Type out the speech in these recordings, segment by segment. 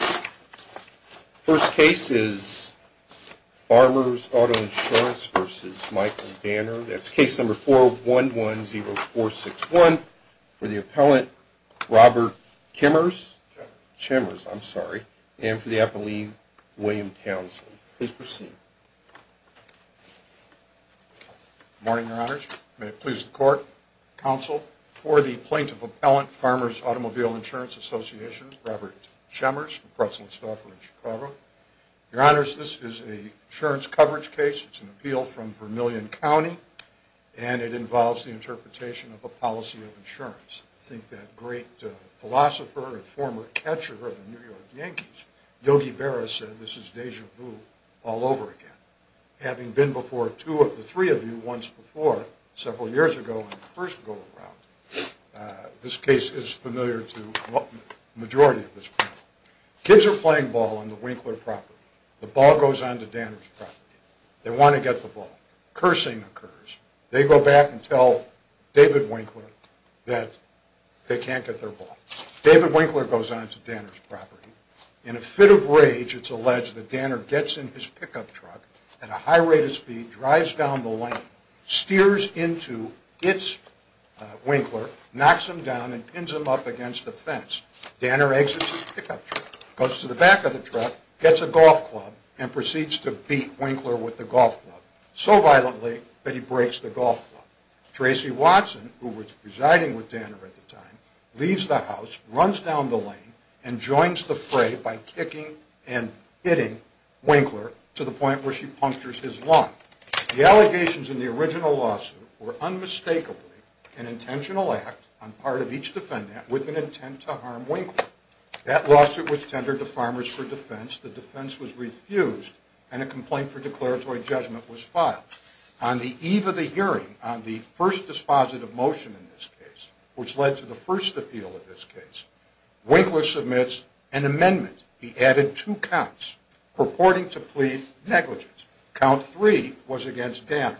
First case is Farmers Auto Insurance v. Michael Danner. That's case number 4110461 for the appellant Robert Chimmers and for the appellant William Townsend. Please proceed. Good morning, Your Honors. May it please the court, counsel, for the plaintiff appellant, Farmers Automobile Insurance Association, Robert Chimmers, from Preston, Stouffer in Chicago. Your Honors, this is an insurance coverage case. It's an appeal from Vermillion County and it involves the interpretation of a policy of insurance. I think that great philosopher and former catcher of the New York Yankees, Yogi Berra, said this is déjà vu all over again. Having been before two of the three of you once before several years ago on the first go-around, this case is familiar to the majority of this panel. Kids are playing ball on the Winkler property. The ball goes on to Danner's property. They want to get the ball. Cursing occurs. They go back and tell David Winkler that they can't get their ball. David Winkler goes on to Danner's property. In a fit of rage, it's alleged that Danner gets in his pickup truck at a high rate of speed, drives down the lane, steers into its Winkler, knocks him down, and pins him up against a fence. Danner exits his pickup truck, goes to the back of the truck, gets a golf club, and proceeds to beat Winkler with the golf club so violently that he breaks the golf club. Tracy Watson, who was residing with Danner at the time, leaves the house, runs down the lane, and joins the fray by kicking and hitting Winkler to the point where she punctures his lung. The allegations in the original lawsuit were unmistakably an intentional act on part of each defendant with an intent to harm Winkler. That lawsuit was tendered to Farmers for Defense. The defense was refused, and a complaint for declaratory judgment was filed. On the eve of the hearing, on the first dispositive motion in this case, which led to the first appeal of this case, Winkler submits an amendment. He added two counts, purporting to plead negligence. Count three was against Danner.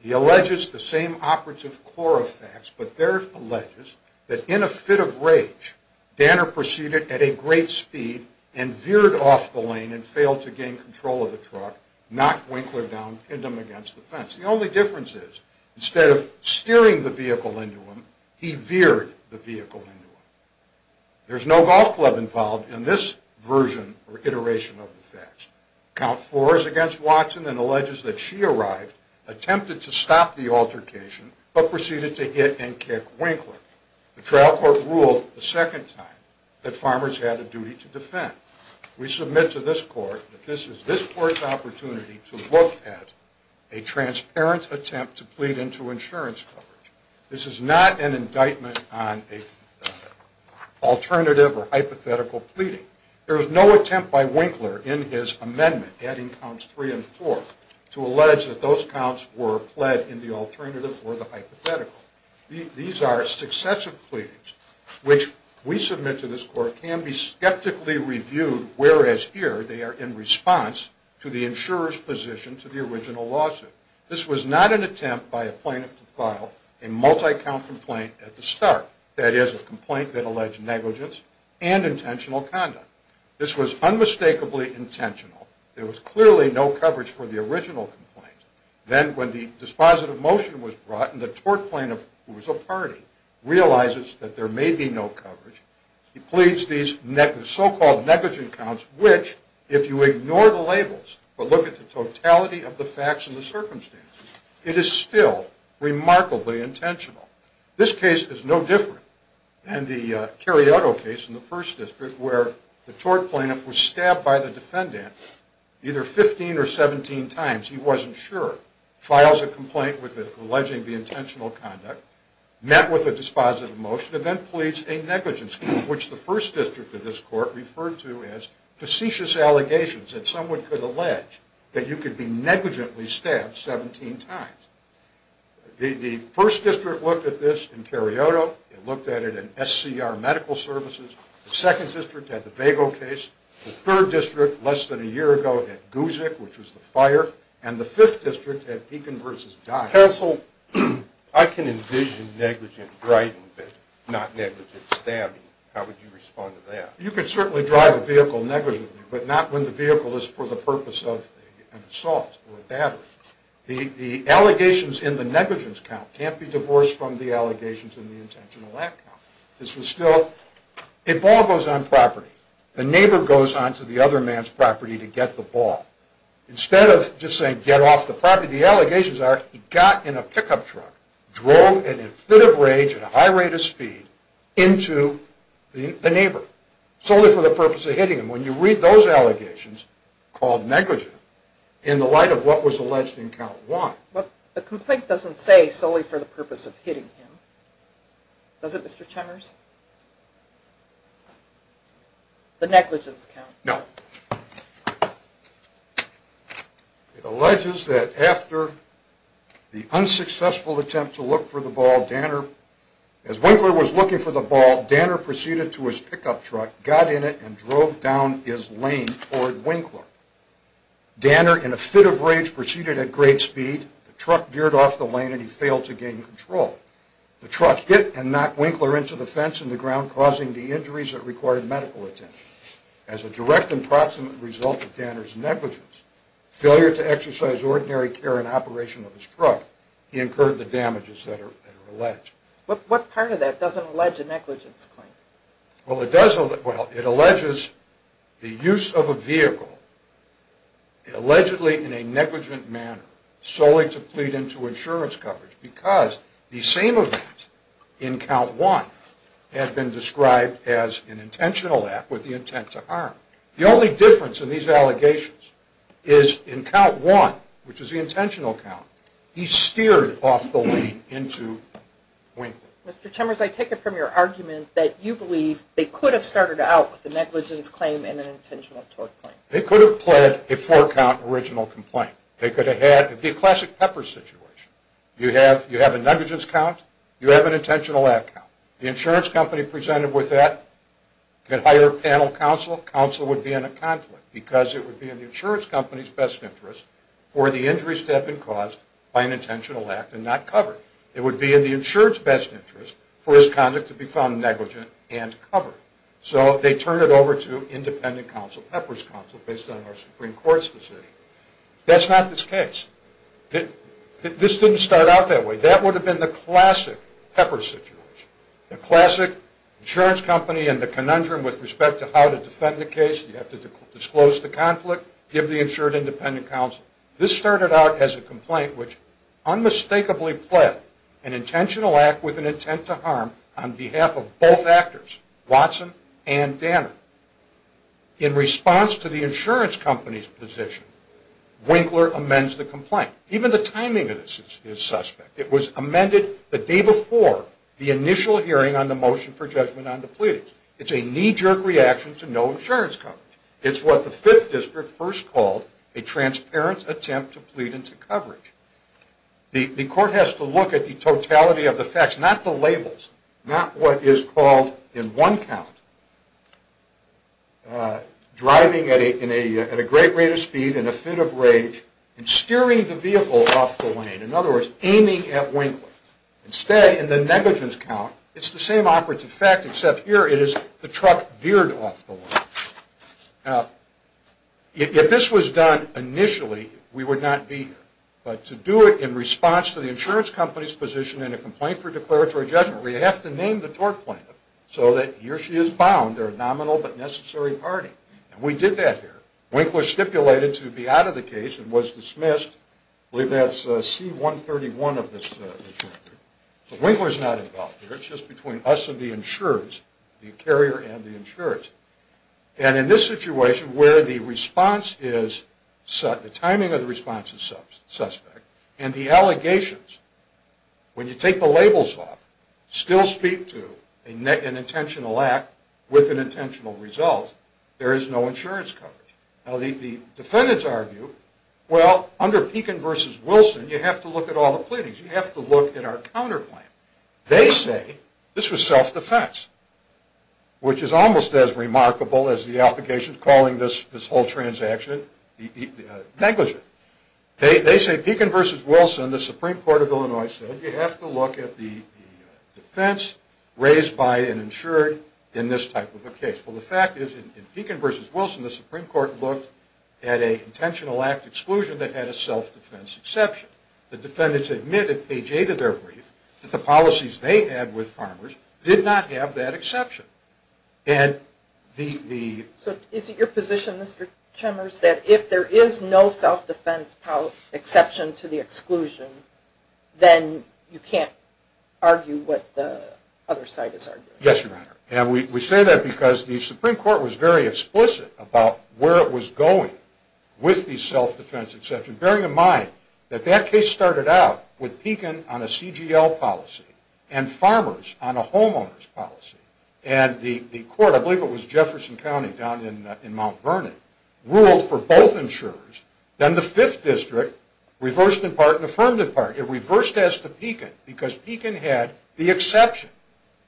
He alleges the same operative core of facts, but there it alleges that in a fit of rage, Danner proceeded at a great speed and veered off the lane and failed to gain control of the truck, knocked Winkler down, pinned him against the fence. The only difference is, instead of steering the vehicle into him, he veered the vehicle into him. There's no golf club involved in this version or iteration of the facts. Count four is against Watson and alleges that she arrived, attempted to stop the altercation, but proceeded to hit and kick Winkler. The trial court ruled the second time that Farmers had a duty to defend. We submit to this court that this is this court's opportunity to look at a transparent attempt to plead into insurance coverage. This is not an indictment on an alternative or hypothetical pleading. There was no attempt by Winkler in his amendment, adding counts three and four, to allege that those counts were pled in the alternative or the hypothetical. These are successive pleadings, which we submit to this court can be skeptically reviewed, whereas here they are in response to the insurer's position to the original lawsuit. This was not an attempt by a plaintiff to file a multi-count complaint at the start, that is, a complaint that alleged negligence and intentional conduct. This was unmistakably intentional. There was clearly no coverage for the original complaint. Then when the dispositive motion was brought and the tort plaintiff, who was a party, realizes that there may be no coverage, he pleads these so-called negligent counts, which, if you ignore the labels but look at the totality of the facts and the circumstances, it is still remarkably intentional. This case is no different than the Cariotto case in the First District, where the tort plaintiff was stabbed by the defendant either 15 or 17 times, he wasn't sure, files a complaint alleging the intentional conduct, met with a dispositive motion, and then pleads a negligence count, which the First District of this court referred to as facetious allegations, that someone could allege that you could be negligently stabbed 17 times. The First District looked at this in Cariotto, it looked at it in SCR Medical Services, the Second District at the Vago case, the Third District less than a year ago at Guzik, which was the fire, and the Fifth District at Beacon v. Dodd. Counsel, I can envision negligent writing, but not negligent stabbing. How would you respond to that? You could certainly drive a vehicle negligently, but not when the vehicle is for the purpose of an assault or a battery. The allegations in the negligence count can't be divorced from the allegations in the intentional act count. This was still, a ball goes on property, the neighbor goes on to the other man's property to get the ball. Instead of just saying, get off the property, the allegations are, he got in a pickup truck, drove in a fit of rage at a high rate of speed into the neighbor, solely for the purpose of hitting him. When you read those allegations, called negligent, in the light of what was alleged in count one. The complaint doesn't say solely for the purpose of hitting him. Does it, Mr. Cheners? The negligence count. No. It alleges that after the unsuccessful attempt to look for the ball, as Winkler was looking for the ball, Danner proceeded to his pickup truck, got in it, and drove down his lane toward Winkler. Danner, in a fit of rage, proceeded at great speed. The truck veered off the lane and he failed to gain control. The truck hit and knocked Winkler into the fence and the ground, causing the injuries that required medical attention. As a direct and proximate result of Danner's negligence, failure to exercise ordinary care in operation of his truck, he incurred the damages that are alleged. What part of that doesn't allege a negligence claim? Well, it alleges the use of a vehicle, allegedly in a negligent manner, solely to plead into insurance coverage, because the same event in count one had been described as an intentional act with the intent to harm. The only difference in these allegations is in count one, which is the intentional count, he steered off the lane into Winkler. Mr. Chemers, I take it from your argument that you believe they could have started out with a negligence claim and an intentional tort claim. They could have pled a four-count original complaint. It would be a classic Pepper situation. You have a negligence count, you have an intentional act count. The insurance company presented with that could hire a panel counsel. Counsel would be in a conflict, because it would be in the insurance company's best interest for the injuries to have been caused by an intentional act and not covered. It would be in the insurance best interest for his conduct to be found negligent and covered. So they turned it over to independent counsel, Pepper's counsel, based on our Supreme Court's decision. That's not this case. This didn't start out that way. That would have been the classic Pepper situation. The classic insurance company and the conundrum with respect to how to defend the case, you have to disclose the conflict, give the insured independent counsel. This started out as a complaint which unmistakably pled an intentional act with an intent to harm on behalf of both actors, Watson and Danner. In response to the insurance company's position, Winkler amends the complaint. Even the timing of this is suspect. It was amended the day before the initial hearing on the motion for judgment on the pleadings. It's a knee-jerk reaction to no insurance coverage. It's what the Fifth District first called a transparent attempt to plead into coverage. The court has to look at the totality of the facts, not the labels, not what is called in one count. Driving at a great rate of speed in a fit of rage and steering the vehicle off the lane, in other words, aiming at Winkler. Instead, in the negligence count, it's the same operative fact, except here it is the truck veered off the lane. Now, if this was done initially, we would not be here. But to do it in response to the insurance company's position in a complaint for declaratory judgment, we have to name the tort plaintiff so that he or she is bound. They're a nominal but necessary party. And we did that here. Winkler stipulated to be out of the case and was dismissed. I believe that's C-131 of this record. But Winkler's not involved here. It's just between us and the insurers, the carrier and the insurers. And in this situation, where the response is – the timing of the response is suspect, and the allegations, when you take the labels off, still speak to an intentional act with an intentional result. There is no insurance coverage. Now, the defendants argue, well, under Pekin v. Wilson, you have to look at all the pleadings. You have to look at our counterclaim. They say this was self-defense, which is almost as remarkable as the allegations calling this whole transaction negligent. They say Pekin v. Wilson, the Supreme Court of Illinois, said you have to look at the defense raised by an insurer in this type of a case. Well, the fact is, in Pekin v. Wilson, the Supreme Court looked at an intentional act exclusion that had a self-defense exception. The defendants admitted, page 8 of their brief, that the policies they had with farmers did not have that exception. So is it your position, Mr. Chemers, that if there is no self-defense exception to the exclusion, then you can't argue what the other side is arguing? Yes, Your Honor. And we say that because the Supreme Court was very explicit about where it was going with the self-defense exception, bearing in mind that that case started out with Pekin on a CGL policy and farmers on a homeowners policy. And the court, I believe it was Jefferson County down in Mount Vernon, ruled for both insurers. Then the Fifth District reversed in part and affirmed in part. It reversed as to Pekin because Pekin had the exception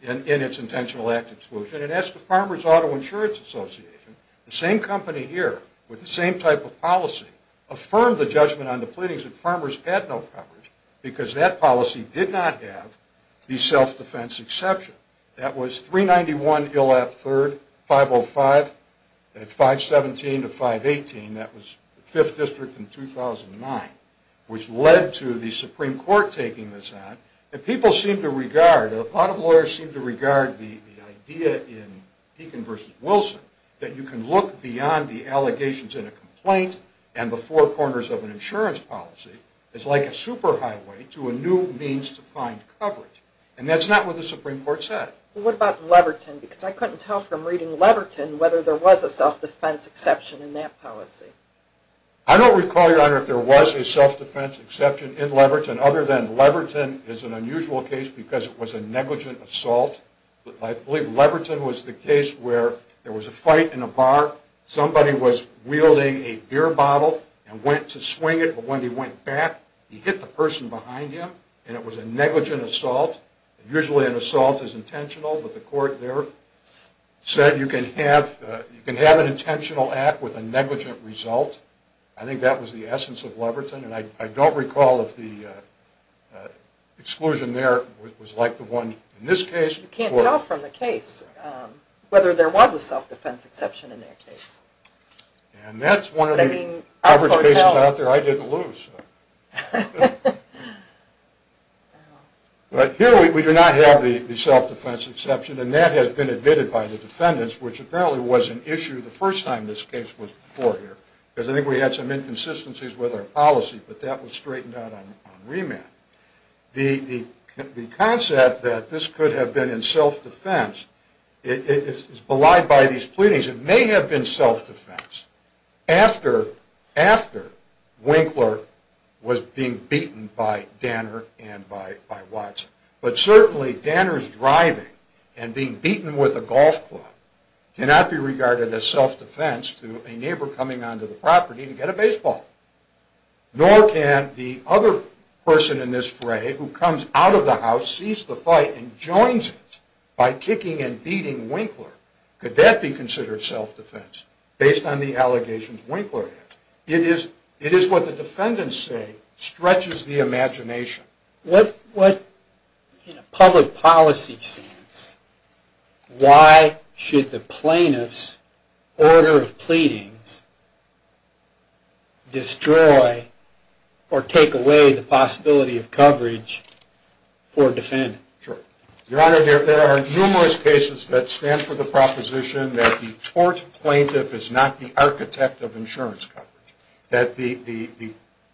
in its intentional act exclusion. It asked the Farmers Auto Insurance Association, the same company here with the same type of policy, affirm the judgment on the pleadings that farmers had no coverage because that policy did not have the self-defense exception. That was 391 Illap 3rd, 505 at 517 to 518. That was the Fifth District in 2009, which led to the Supreme Court taking this on. And people seem to regard, a lot of lawyers seem to regard the idea in Pekin versus Wilson, that you can look beyond the allegations in a complaint and the four corners of an insurance policy. It's like a superhighway to a new means to find coverage. And that's not what the Supreme Court said. Well, what about Leverton? Because I couldn't tell from reading Leverton whether there was a self-defense exception in that policy. I don't recall, Your Honor, if there was a self-defense exception in Leverton, other than Leverton is an unusual case because it was a negligent assault. I believe Leverton was the case where there was a fight in a bar. Somebody was wielding a beer bottle and went to swing it. But when he went back, he hit the person behind him, and it was a negligent assault. Usually an assault is intentional, but the court there said you can have an intentional act with a negligent result. I think that was the essence of Leverton. And I don't recall if the exclusion there was like the one in this case. You can't tell from the case whether there was a self-defense exception in their case. And that's one of the average cases out there I didn't lose. But here we do not have the self-defense exception, and that has been admitted by the defendants, which apparently was an issue the first time this case was before here. Because I think we had some inconsistencies with our policy, but that was straightened out on remand. The concept that this could have been in self-defense is belied by these pleadings. It may have been self-defense after Winkler was being beaten by Danner and by Watson. But certainly Danner's driving and being beaten with a golf club cannot be regarded as self-defense to a neighbor coming onto the property to get a baseball. Nor can the other person in this fray who comes out of the house, sees the fight, and joins it by kicking and beating Winkler. Could that be considered self-defense based on the allegations Winkler had? It is what the defendants say stretches the imagination. In a public policy sense, why should the plaintiff's order of pleadings destroy or take away the possibility of coverage for a defendant? Your Honor, there are numerous cases that stand for the proposition that the tort plaintiff is not the architect of insurance coverage. That the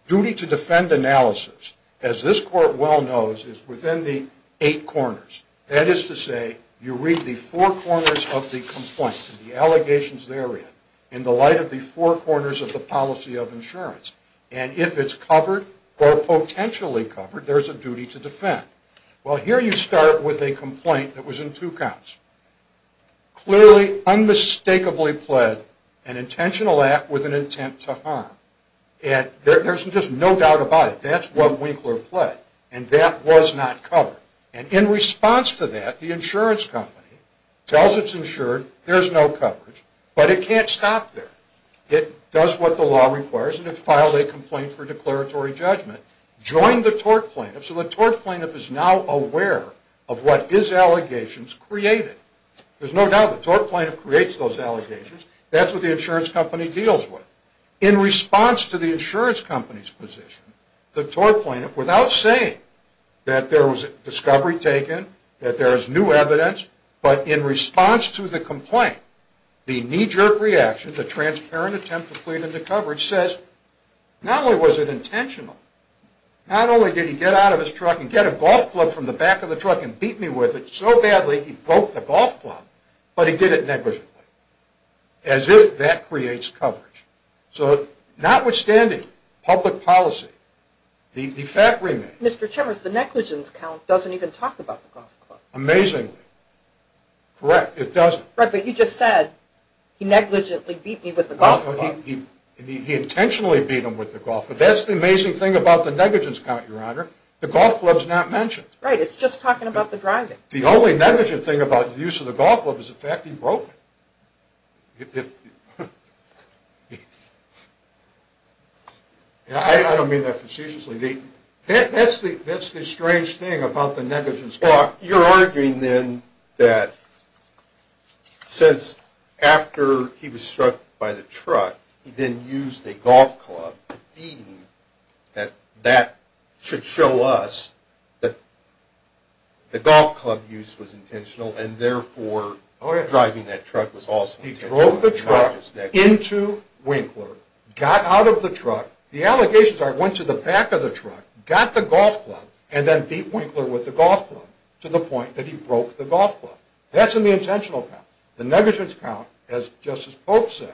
duty to defend analysis, as this Court well knows, is within the eight corners. That is to say, you read the four corners of the complaint, the allegations therein, in the light of the four corners of the policy of insurance. And if it's covered or potentially covered, there's a duty to defend. Well, here you start with a complaint that was in two counts. Clearly, unmistakably pled an intentional act with an intent to harm. And there's just no doubt about it, that's what Winkler pled. And that was not covered. And in response to that, the insurance company tells its insured, there's no coverage. But it can't stop there. It does what the law requires, and it filed a complaint for declaratory judgment. Joined the tort plaintiff, so the tort plaintiff is now aware of what his allegations created. There's no doubt the tort plaintiff creates those allegations. That's what the insurance company deals with. In response to the insurance company's position, the tort plaintiff, without saying that there was a discovery taken, that there is new evidence, but in response to the complaint, the knee-jerk reaction, the transparent attempt to plead into coverage, says not only was it intentional, not only did he get out of his truck and get a golf club from the back of the truck and beat me with it so badly, he broke the golf club, but he did it negligently. As if that creates coverage. So notwithstanding public policy, the fact remains. Mr. Chemers, the negligence count doesn't even talk about the golf club. Amazingly. Correct, it doesn't. Right, but you just said, he negligently beat me with the golf club. He intentionally beat him with the golf club. That's the amazing thing about the negligence count, Your Honor. The golf club's not mentioned. Right, it's just talking about the driving. The only negligent thing about the use of the golf club is the fact he broke it. I don't mean that facetiously. That's the strange thing about the negligence count. Well, you're arguing then that since after he was struck by the truck, he didn't use the golf club to beat him, that that should show us that the golf club use was intentional and therefore driving that truck was also intentional. He drove the truck into Winkler, got out of the truck. The allegations are that he went to the back of the truck, got the golf club, and then beat Winkler with the golf club to the point that he broke the golf club. That's in the intentional count. The negligence count, just as Pope says,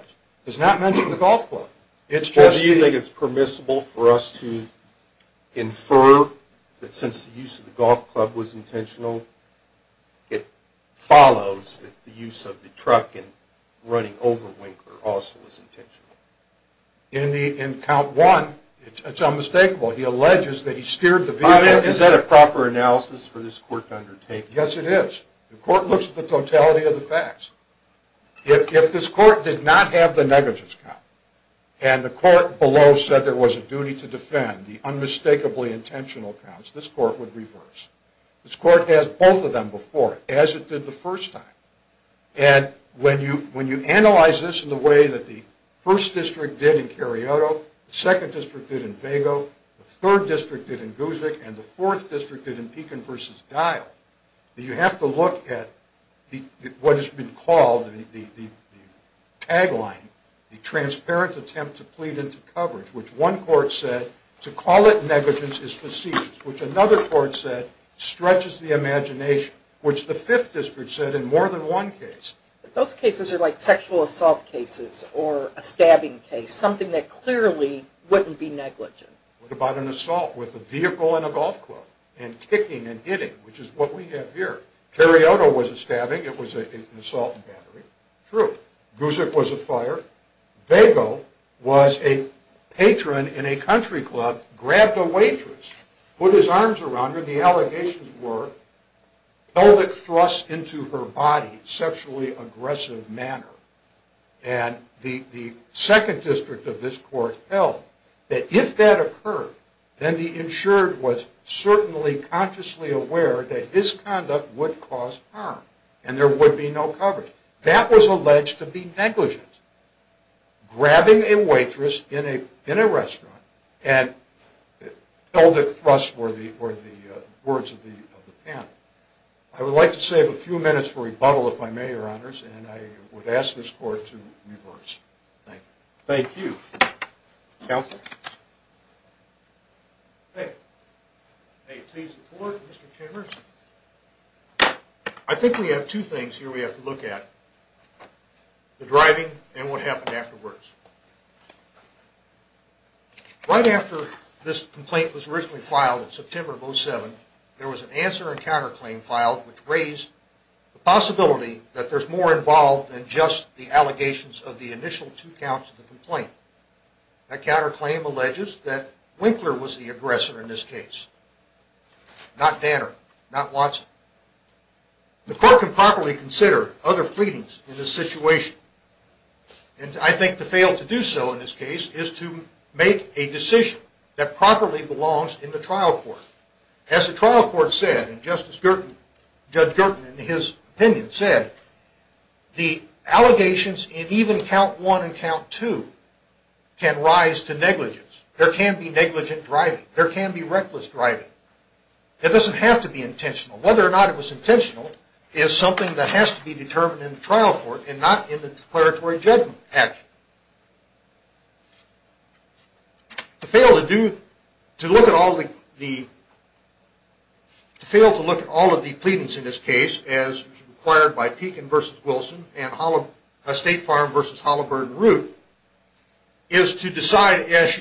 does not mention the golf club. Well, do you think it's permissible for us to infer that since the use of the golf club was intentional, it follows that the use of the truck in running over Winkler also was intentional? In count one, it's unmistakable. He alleges that he steered the vehicle. Is that a proper analysis for this court to undertake? Yes, it is. The court looks at the totality of the facts. If this court did not have the negligence count and the court below said there was a duty to defend, the unmistakably intentional counts, this court would reverse. This court has both of them before, as it did the first time. And when you analyze this in the way that the first district did in Carioto, the second district did in Vago, the third district did in Guzik, and the fourth district did in Pekin v. Dial, you have to look at what has been called the tagline, the transparent attempt to plead into coverage, which one court said, to call it negligence is facetious, which another court said stretches the imagination, which the fifth district said in more than one case. Those cases are like sexual assault cases or a stabbing case, something that clearly wouldn't be negligent. What about an assault with a vehicle in a golf club and kicking and hitting, which is what we have here? Carioto was a stabbing. It was an assault and battery. True. Guzik was a fire. Vago was a patron in a country club, grabbed a waitress, put his arms around her. One of the allegations were pelvic thrusts into her body, sexually aggressive manner, and the second district of this court held that if that occurred, then the insured was certainly consciously aware that his conduct would cause harm and there would be no coverage. That was alleged to be negligent, grabbing a waitress in a restaurant and pelvic thrusts were the words of the panel. I would like to save a few minutes for rebuttal, if I may, Your Honors, and I would ask this court to reverse. Thank you. Thank you. Counsel? Hey. Hey, please report, Mr. Chambers. I think we have two things here we have to look at, the driving and what happened afterwards. Right after this complaint was originally filed in September of 07, there was an answer and counterclaim filed, which raised the possibility that there's more involved than just the allegations of the initial two counts of the complaint. That counterclaim alleges that Winkler was the aggressor in this case, not Danner, not Watson. The court can properly consider other pleadings in this situation and I think to fail to do so in this case is to make a decision that properly belongs in the trial court. As the trial court said, and Justice Gertin, Judge Gertin in his opinion said, the allegations in even count one and count two can rise to negligence. There can be negligent driving. There can be reckless driving. It doesn't have to be intentional. Whether or not it was intentional is something that has to be determined in the trial court and not in the declaratory judgment action. To fail to do, to look at all the, to fail to look at all of the pleadings in this case as required by Pekin versus Wilson and State Farm versus Halliburton Root is to decide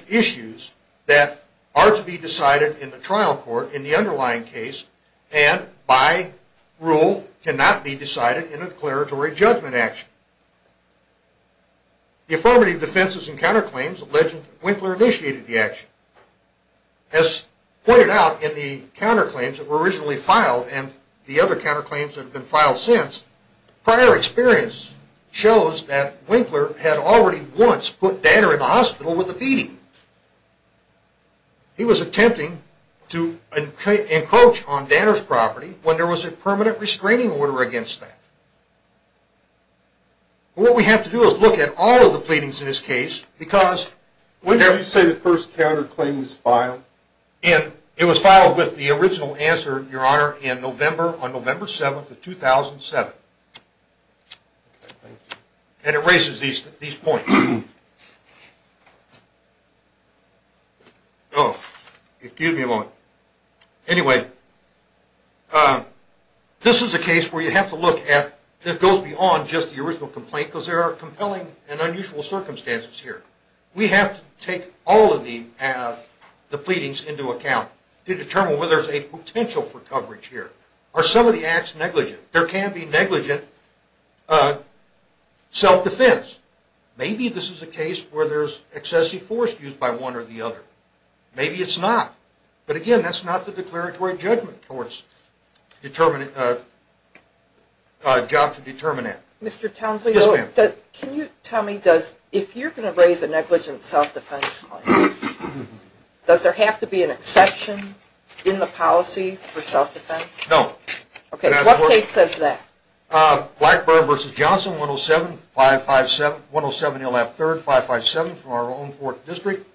issues that are to be decided in the trial court in the underlying case and by rule cannot be decided in a declaratory judgment action. The affirmative defenses and counterclaims allege that Winkler initiated the action. As pointed out in the counterclaims that were originally filed and the other counterclaims that have been filed since, prior experience shows that Winkler had already once put Danner in the hospital with a feeding. He was attempting to encroach on Danner's property when there was a permanent restraining order against that. What we have to do is look at all of the pleadings in this case because When did you say the first counterclaim was filed? It was filed with the original answer, your honor, in November, on November 7, 2007. And it raises these points. Oh, excuse me a moment. Anyway, this is a case where you have to look at, that goes beyond just the original complaint because there are compelling and unusual circumstances here. We have to take all of the pleadings into account to determine whether there is a potential for coverage here. Are some of the acts negligent? There can be negligent self-defense. Maybe this is a case where there is excessive force used by one or the other. Maybe it's not. But again, that's not the declaratory judgment towards a job to determine it. Mr. Townsley, can you tell me, if you're going to raise a negligent self-defense claim, does there have to be an exception in the policy for self-defense? No. Okay, what case says that? Blackburn v. Johnson, 107-107-013-557 from our own 4th District.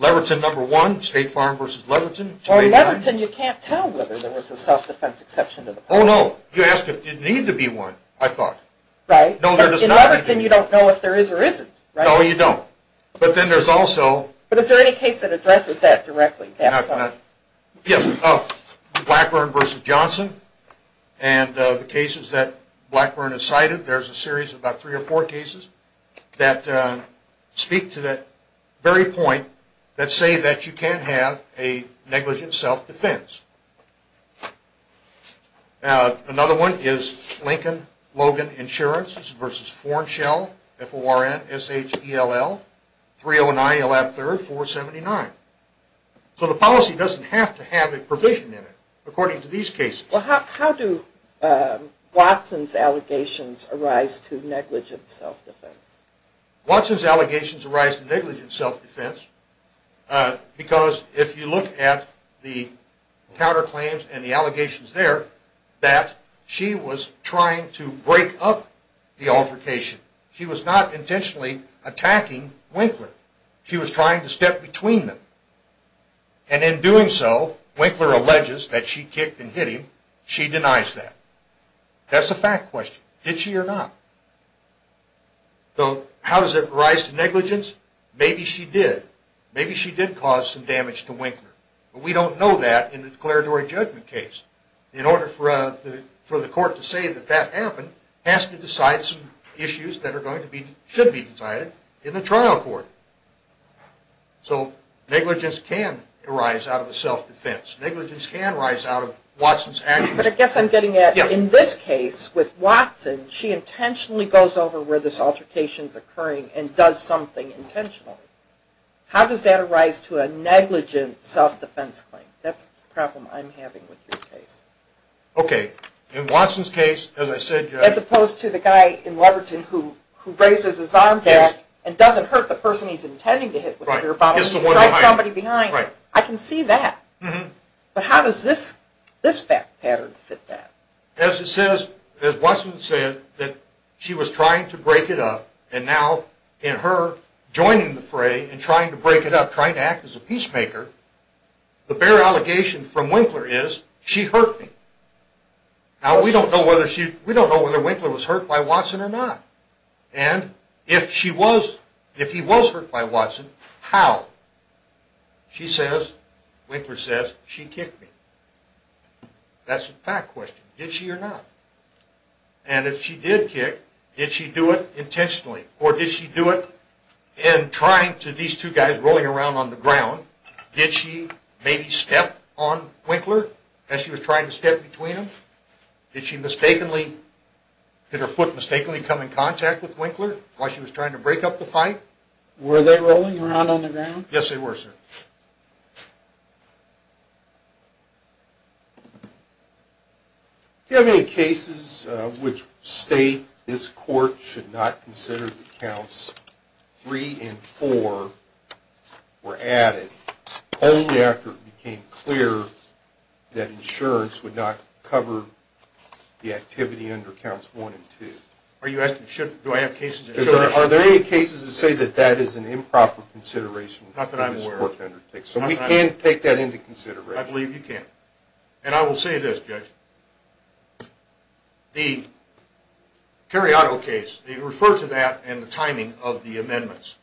Leverton, No. 1, State Farm v. Leverton. In Leverton, you can't tell whether there was a self-defense exception to the policy. Oh, no. You asked if there needed to be one, I thought. Right. In Leverton, you don't know if there is or isn't, right? No, you don't. But then there's also... But is there any case that addresses that directly? Yes. Blackburn v. Johnson and the cases that Blackburn has cited. There's a series of about three or four cases that speak to that very point that say that you can have a negligent self-defense. Another one is Lincoln-Logan Insurance v. Forenshell, F-O-R-N-S-H-E-L-L, 309 Elab 3rd, 479. So the policy doesn't have to have a provision in it, according to these cases. Well, how do Watson's allegations arise to negligent self-defense? Watson's allegations arise to negligent self-defense because if you look at the counterclaims and the allegations there, that she was trying to break up the altercation. She was not intentionally attacking Winkler. She was trying to step between them. And in doing so, Winkler alleges that she kicked and hit him. She denies that. That's a fact question. Did she or not? So how does it arise to negligence? Maybe she did. Maybe she did cause some damage to Winkler. But we don't know that in the declaratory judgment case. In order for the court to say that that happened, it has to decide some issues that should be decided in the trial court. So negligence can arise out of a self-defense. Negligence can arise out of Watson's actions. But I guess I'm getting at in this case with Watson, she intentionally goes over where this altercation is occurring and does something intentionally. How does that arise to a negligent self-defense claim? That's the problem I'm having with your case. Okay. In Watson's case, as I said... As opposed to the guy in Leverton who raises his arm back and doesn't hurt the person he's intending to hit with a beer bottle. He strikes somebody behind. I can see that. But how does this pattern fit that? As Watson said, she was trying to break it up. And now in her joining the fray and trying to break it up, trying to act as a peacemaker, the bare allegation from Winkler is, she hurt me. Now we don't know whether Winkler was hurt by Watson or not. And if he was hurt by Watson, how? She says, Winkler says, she kicked me. That's a fact question. Did she or not? And if she did kick, did she do it intentionally? Or did she do it in trying to, these two guys rolling around on the ground, did she maybe step on Winkler as she was trying to step between them? Did she mistakenly, did her foot mistakenly come in contact with Winkler while she was trying to break up the fight? Were they rolling around on the ground? Yes, they were, sir. Do you have any cases which state this court should not consider the counts 3 and 4 were added only after it became clear that insurance would not cover the activity under counts 1 and 2? Are you asking, do I have cases? Are there any cases that say that that is an improper consideration for this court to undertake? Not that I'm aware of. So we can't take that into consideration? I believe you can't. And I will say this, Judge. The Cariato case, they refer to that and the timing of the amendments.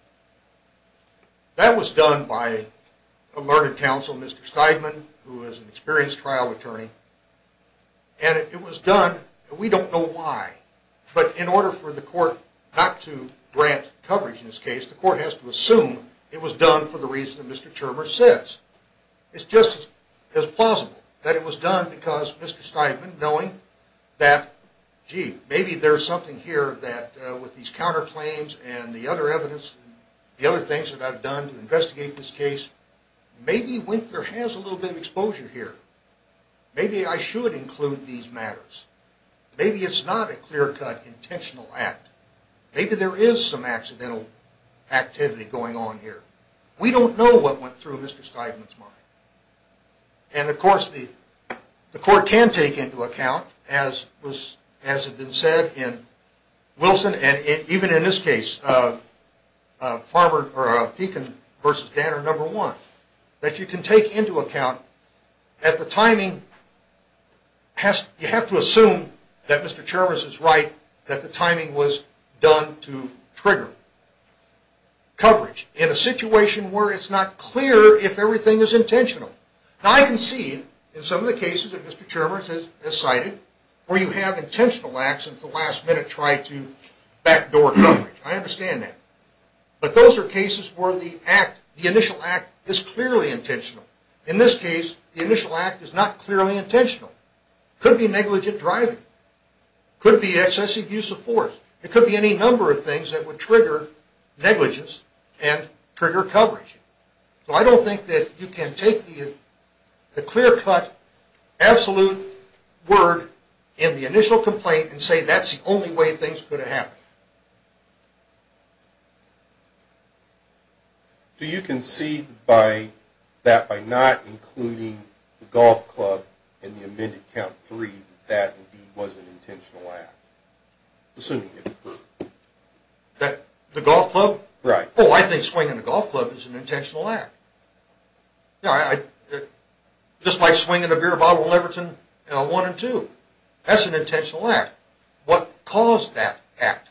That was done by a learned counsel, Mr. Steigman, who is an experienced trial attorney. And it was done, we don't know why. But in order for the court not to grant coverage in this case, the court has to assume it was done for the reason that Mr. Chermer says. It's just as plausible that it was done because Mr. Steigman, knowing that, gee, maybe there's something here that with these counterclaims and the other evidence, the other things that I've done to investigate this case, maybe Winkler has a little bit of exposure here. Maybe I should include these matters. Maybe it's not a clear-cut, intentional act. Maybe there is some accidental activity going on here. We don't know what went through Mr. Steigman's mind. And, of course, the court can take into account, as has been said in Wilson and even in this case, Pekin v. Danner, number one, that you can take into account that the timing, you have to assume that Mr. Chermer is right, that the timing was done to trigger coverage in a situation where it's not clear if everything is intentional. Now, I can see in some of the cases that Mr. Chermer has cited where you have intentional acts and at the last minute try to backdoor coverage. I understand that. But those are cases where the act, the initial act, is clearly intentional. In this case, the initial act is not clearly intentional. It could be negligent driving. It could be excessive use of force. It could be any number of things that would trigger negligence and trigger coverage. So I don't think that you can take the clear-cut, absolute word in the initial complaint and say that's the only way things could have happened. Do you concede that by not including the golf club in the amended count three that that indeed was an intentional act, assuming it occurred? The golf club? Right. Oh, I think swinging the golf club is an intentional act. Just like swinging a beer bottle in Leverton 1 and 2. That's an intentional act. What caused that act?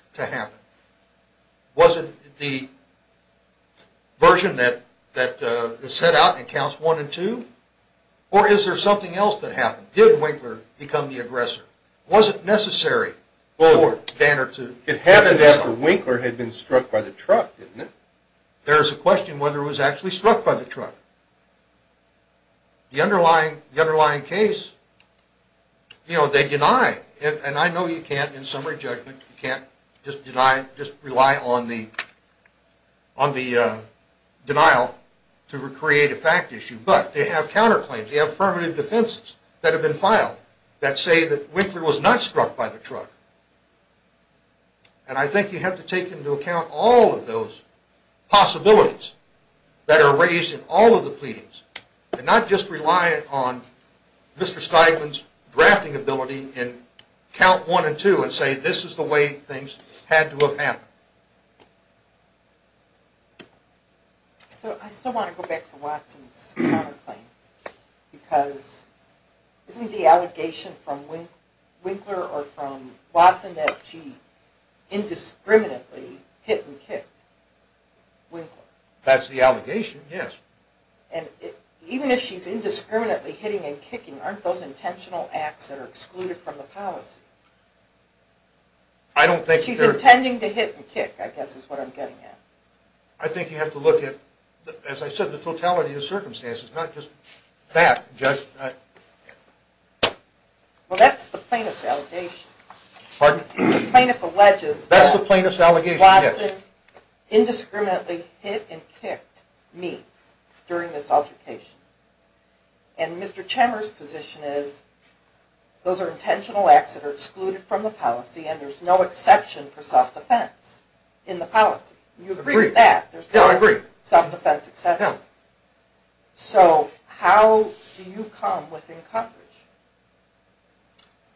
Was it the version that is set out in counts one and two? Or is there something else that happened? Did Winkler become the aggressor? Was it necessary for Danner to do so? It happened after Winkler had been struck by the truck, didn't it? There's a question whether it was actually struck by the truck. The underlying case, you know, they deny. And I know you can't in summary judgment. You can't just rely on the denial to create a fact issue. But they have counterclaims. They have affirmative defenses that have been filed that say that Winkler was not struck by the truck. And I think you have to take into account all of those possibilities that are raised in all of the pleadings and not just rely on Mr. Steigman's drafting ability in count one and two and say this is the way things had to have happened. I still want to go back to Watson's counterclaim because isn't the allegation from Winkler or from Watson that she indiscriminately hit and kicked Winkler? That's the allegation, yes. And even if she's indiscriminately hitting and kicking, aren't those intentional acts that are excluded from the policy? She's intending to hit and kick, I guess is what I'm getting at. I think you have to look at, as I said, the totality of the circumstances, not just that. Well, that's the plaintiff's allegation. Pardon? The plaintiff alleges that Watson indiscriminately hit and kicked me. During this altercation. And Mr. Chemer's position is those are intentional acts that are excluded from the policy and there's no exception for self-defense in the policy. You agree with that? No, I agree. There's no self-defense exception. No. So how do you come within coverage?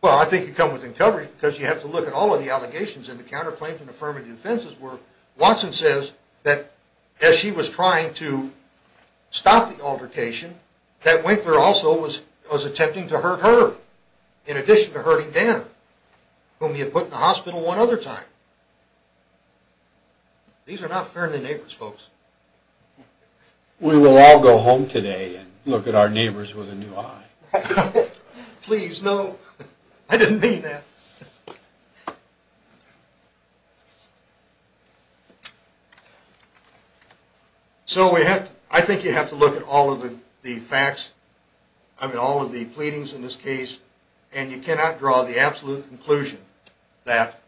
Well, I think you come within coverage because you have to look at all of the allegations and the counterclaims and affirmative offenses where Watson says that as she was trying to stop the altercation, that Winkler also was attempting to hurt her in addition to hurting Danner, whom he had put in the hospital one other time. These are not fairly neighbors, folks. We will all go home today and look at our neighbors with a new eye. Please, no. I didn't mean that. So I think you have to look at all of the facts, all of the pleadings in this case, and you cannot draw the absolute conclusion that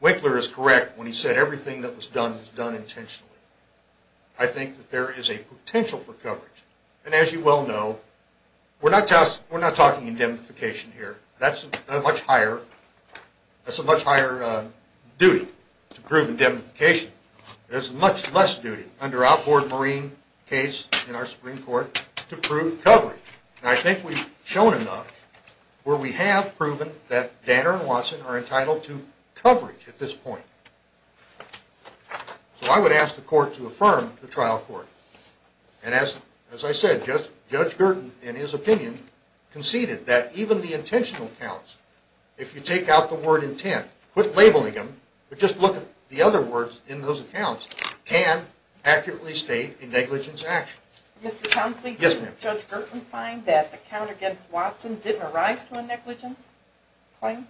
Winkler is correct when he said everything that was done was done intentionally. I think that there is a potential for coverage. And as you well know, we're not talking indemnification here. That's a much higher duty to prove indemnification. There's much less duty under outboard marine case in our Supreme Court to prove coverage. And I think we've shown enough where we have proven that Danner and Watson are entitled to coverage at this point. So I would ask the court to affirm the trial court. And as I said, Judge Gertin, in his opinion, conceded that even the intentional counts, if you take out the word intent, quit labeling them, but just look at the other words in those accounts, can accurately state a negligence action. Mr. Townsley, didn't Judge Gertin find that the count against Watson didn't arise to a negligence claim?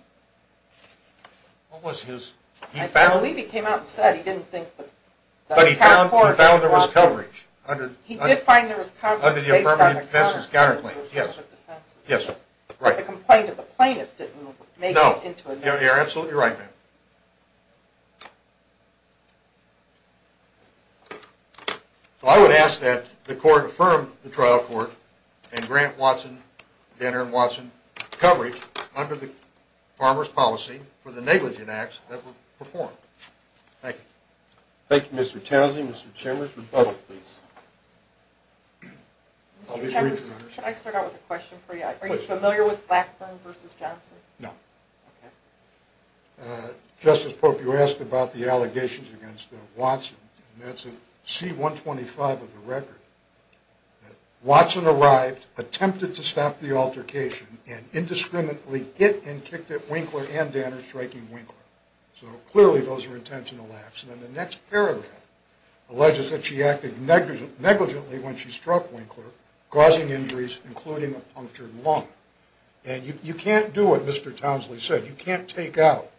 He found there was coverage under the affirmative defense's counterclaim. The complaint of the plaintiff didn't make it into a negligence claim. No, you're absolutely right, ma'am. So I would ask that the court affirm the trial court and grant Danner and Watson coverage under the farmer's policy for the negligent acts that were performed. Thank you. Thank you, Mr. Townsley. Mr. Chambers, rebuttal, please. Mr. Chambers, should I start out with a question for you? Please. Are you familiar with Blackburn v. Johnson? No. Okay. Justice Pope, you asked about the allegations against Watson, and that's a C-125 of the record. Watson arrived, attempted to stop the altercation, and indiscriminately hit and kicked at Winkler and Danner, striking Winkler. So clearly those were intentional acts. And then the next paragraph alleges that she acted negligently when she struck Winkler, causing injuries, including a punctured lung. And you can't do what Mr. Townsley said. You can't take out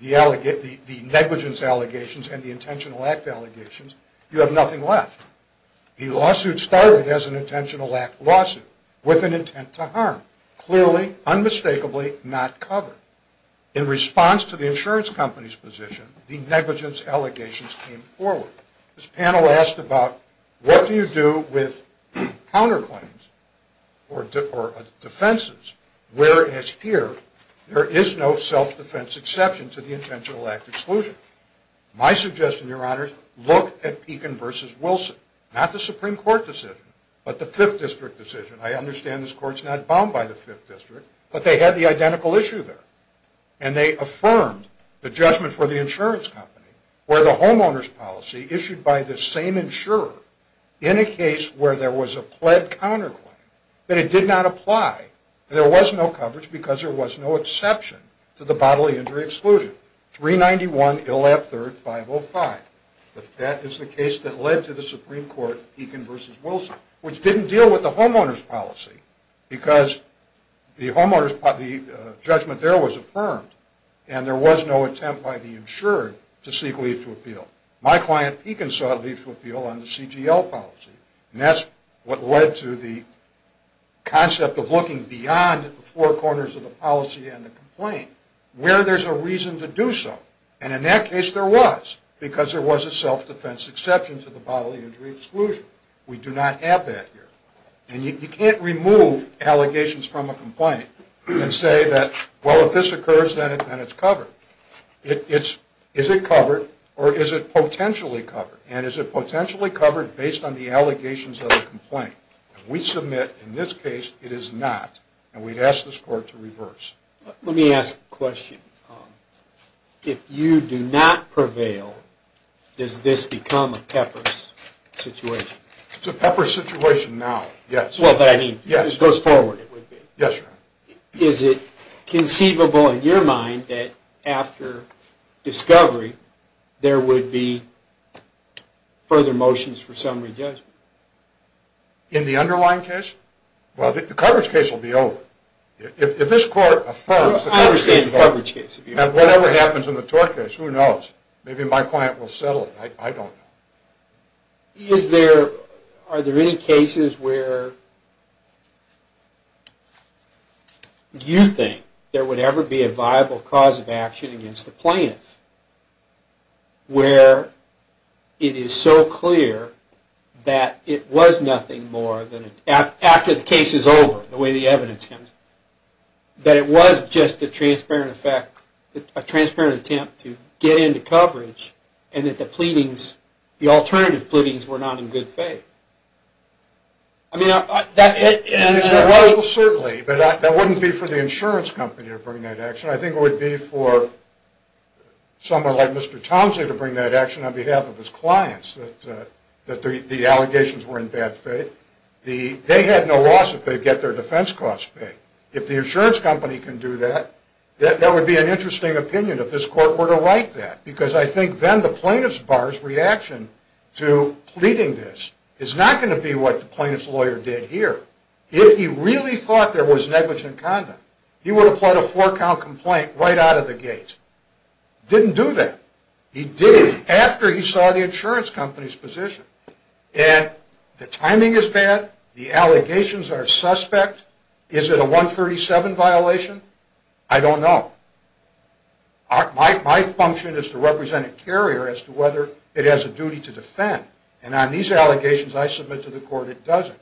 the negligence allegations and the intentional act allegations. You have nothing left. The lawsuit started as an intentional act lawsuit with an intent to harm, clearly, unmistakably not covered. In response to the insurance company's position, the negligence allegations came forward. This panel asked about what do you do with counterclaims or defenses, whereas here there is no self-defense exception to the intentional act exclusion. My suggestion, Your Honors, look at Pekin v. Wilson. Not the Supreme Court decision, but the Fifth District decision. I understand this court's not bound by the Fifth District, but they had the identical issue there. And they affirmed the judgment for the insurance company, where the homeowner's policy issued by the same insurer, in a case where there was a pled counterclaim, that it did not apply. There was no coverage because there was no exception to the bodily injury exclusion. 391 Illap III, 505. But that is the case that led to the Supreme Court, Pekin v. Wilson, which didn't deal with the homeowner's policy, because the judgment there was affirmed, and there was no attempt by the insurer to seek leave to appeal. My client, Pekin, sought leave to appeal on the CGL policy, and that's what led to the concept of looking beyond the four corners of the policy and the complaint, where there's a reason to do so. And in that case there was, because there was a self-defense exception to the bodily injury exclusion. We do not have that here. And you can't remove allegations from a complaint and say that, well, if this occurs, then it's covered. Is it covered, or is it potentially covered? And is it potentially covered based on the allegations of the complaint? If we submit in this case, it is not, and we'd ask the Court to reverse. Let me ask a question. If you do not prevail, does this become a PEPRS situation? It's a PEPRS situation now, yes. Well, but I mean, it goes forward. Yes, Your Honor. Is it conceivable in your mind that after discovery there would be further motions for summary judgment? In the underlying case? Well, the coverage case will be over. If this Court affirms the coverage case is over. I understand the coverage case. Whatever happens in the tort case, who knows? Maybe my client will settle it. I don't know. Is there, are there any cases where you think there would ever be a viable cause of action against a plaintiff where it is so clear that it was nothing more than, after the case is over, the way the evidence comes, that it was just a transparent effect, a transparent attempt to get into coverage, and that the pleadings, the alternative pleadings, were not in good faith? I mean, that, and... Well, certainly, but that wouldn't be for the insurance company to bring that action. I think it would be for someone like Mr. Thompson to bring that action on behalf of his clients, that the allegations were in bad faith. They had no loss if they get their defense costs paid. If the insurance company can do that, that would be an interesting opinion if this Court were to write that, because I think then the plaintiff's bar's reaction to pleading this is not going to be what the plaintiff's lawyer did here. If he really thought there was negligent conduct, he would have put a four-count complaint right out of the gate. Didn't do that. He did it after he saw the insurance company's position. And the timing is bad. The allegations are suspect. Is it a 137 violation? I don't know. My function is to represent a carrier as to whether it has a duty to defend, and on these allegations I submit to the Court it doesn't.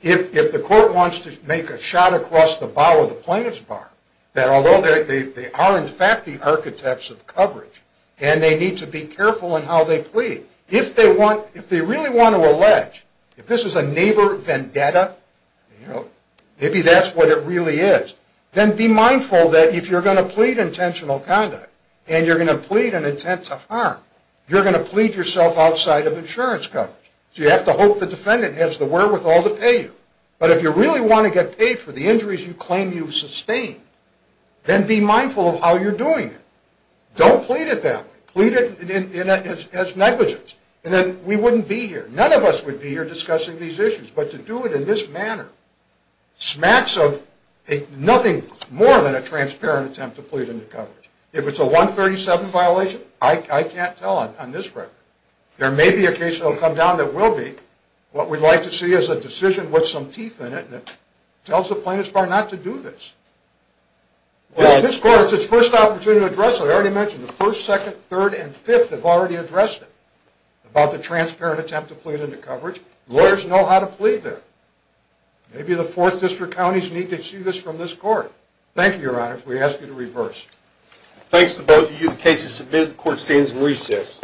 If the Court wants to make a shot across the bow of the plaintiff's bar, that although they are in fact the architects of coverage, and they need to be careful in how they plead, if they really want to allege if this is a neighbor vendetta, maybe that's what it really is, then be mindful that if you're going to plead intentional conduct and you're going to plead an intent to harm, you're going to plead yourself outside of insurance coverage. So you have to hope the defendant has the wherewithal to pay you. But if you really want to get paid for the injuries you claim you've sustained, then be mindful of how you're doing it. Don't plead it that way. Plead it as negligence, and then we wouldn't be here. None of us would be here discussing these issues. But to do it in this manner smacks of nothing more than a transparent attempt to plead into coverage. If it's a 137 violation, I can't tell on this record. There may be a case that will come down that will be. What we'd like to see is a decision with some teeth in it that tells the plaintiff's bar not to do this. This court has its first opportunity to address it. I already mentioned the first, second, third, and fifth have already addressed it, about the transparent attempt to plead into coverage. Lawyers know how to plead there. Maybe the fourth district counties need to see this from this court. Thank you, Your Honor. We ask you to reverse. Thanks to both of you. The case is submitted. The court stands in recess.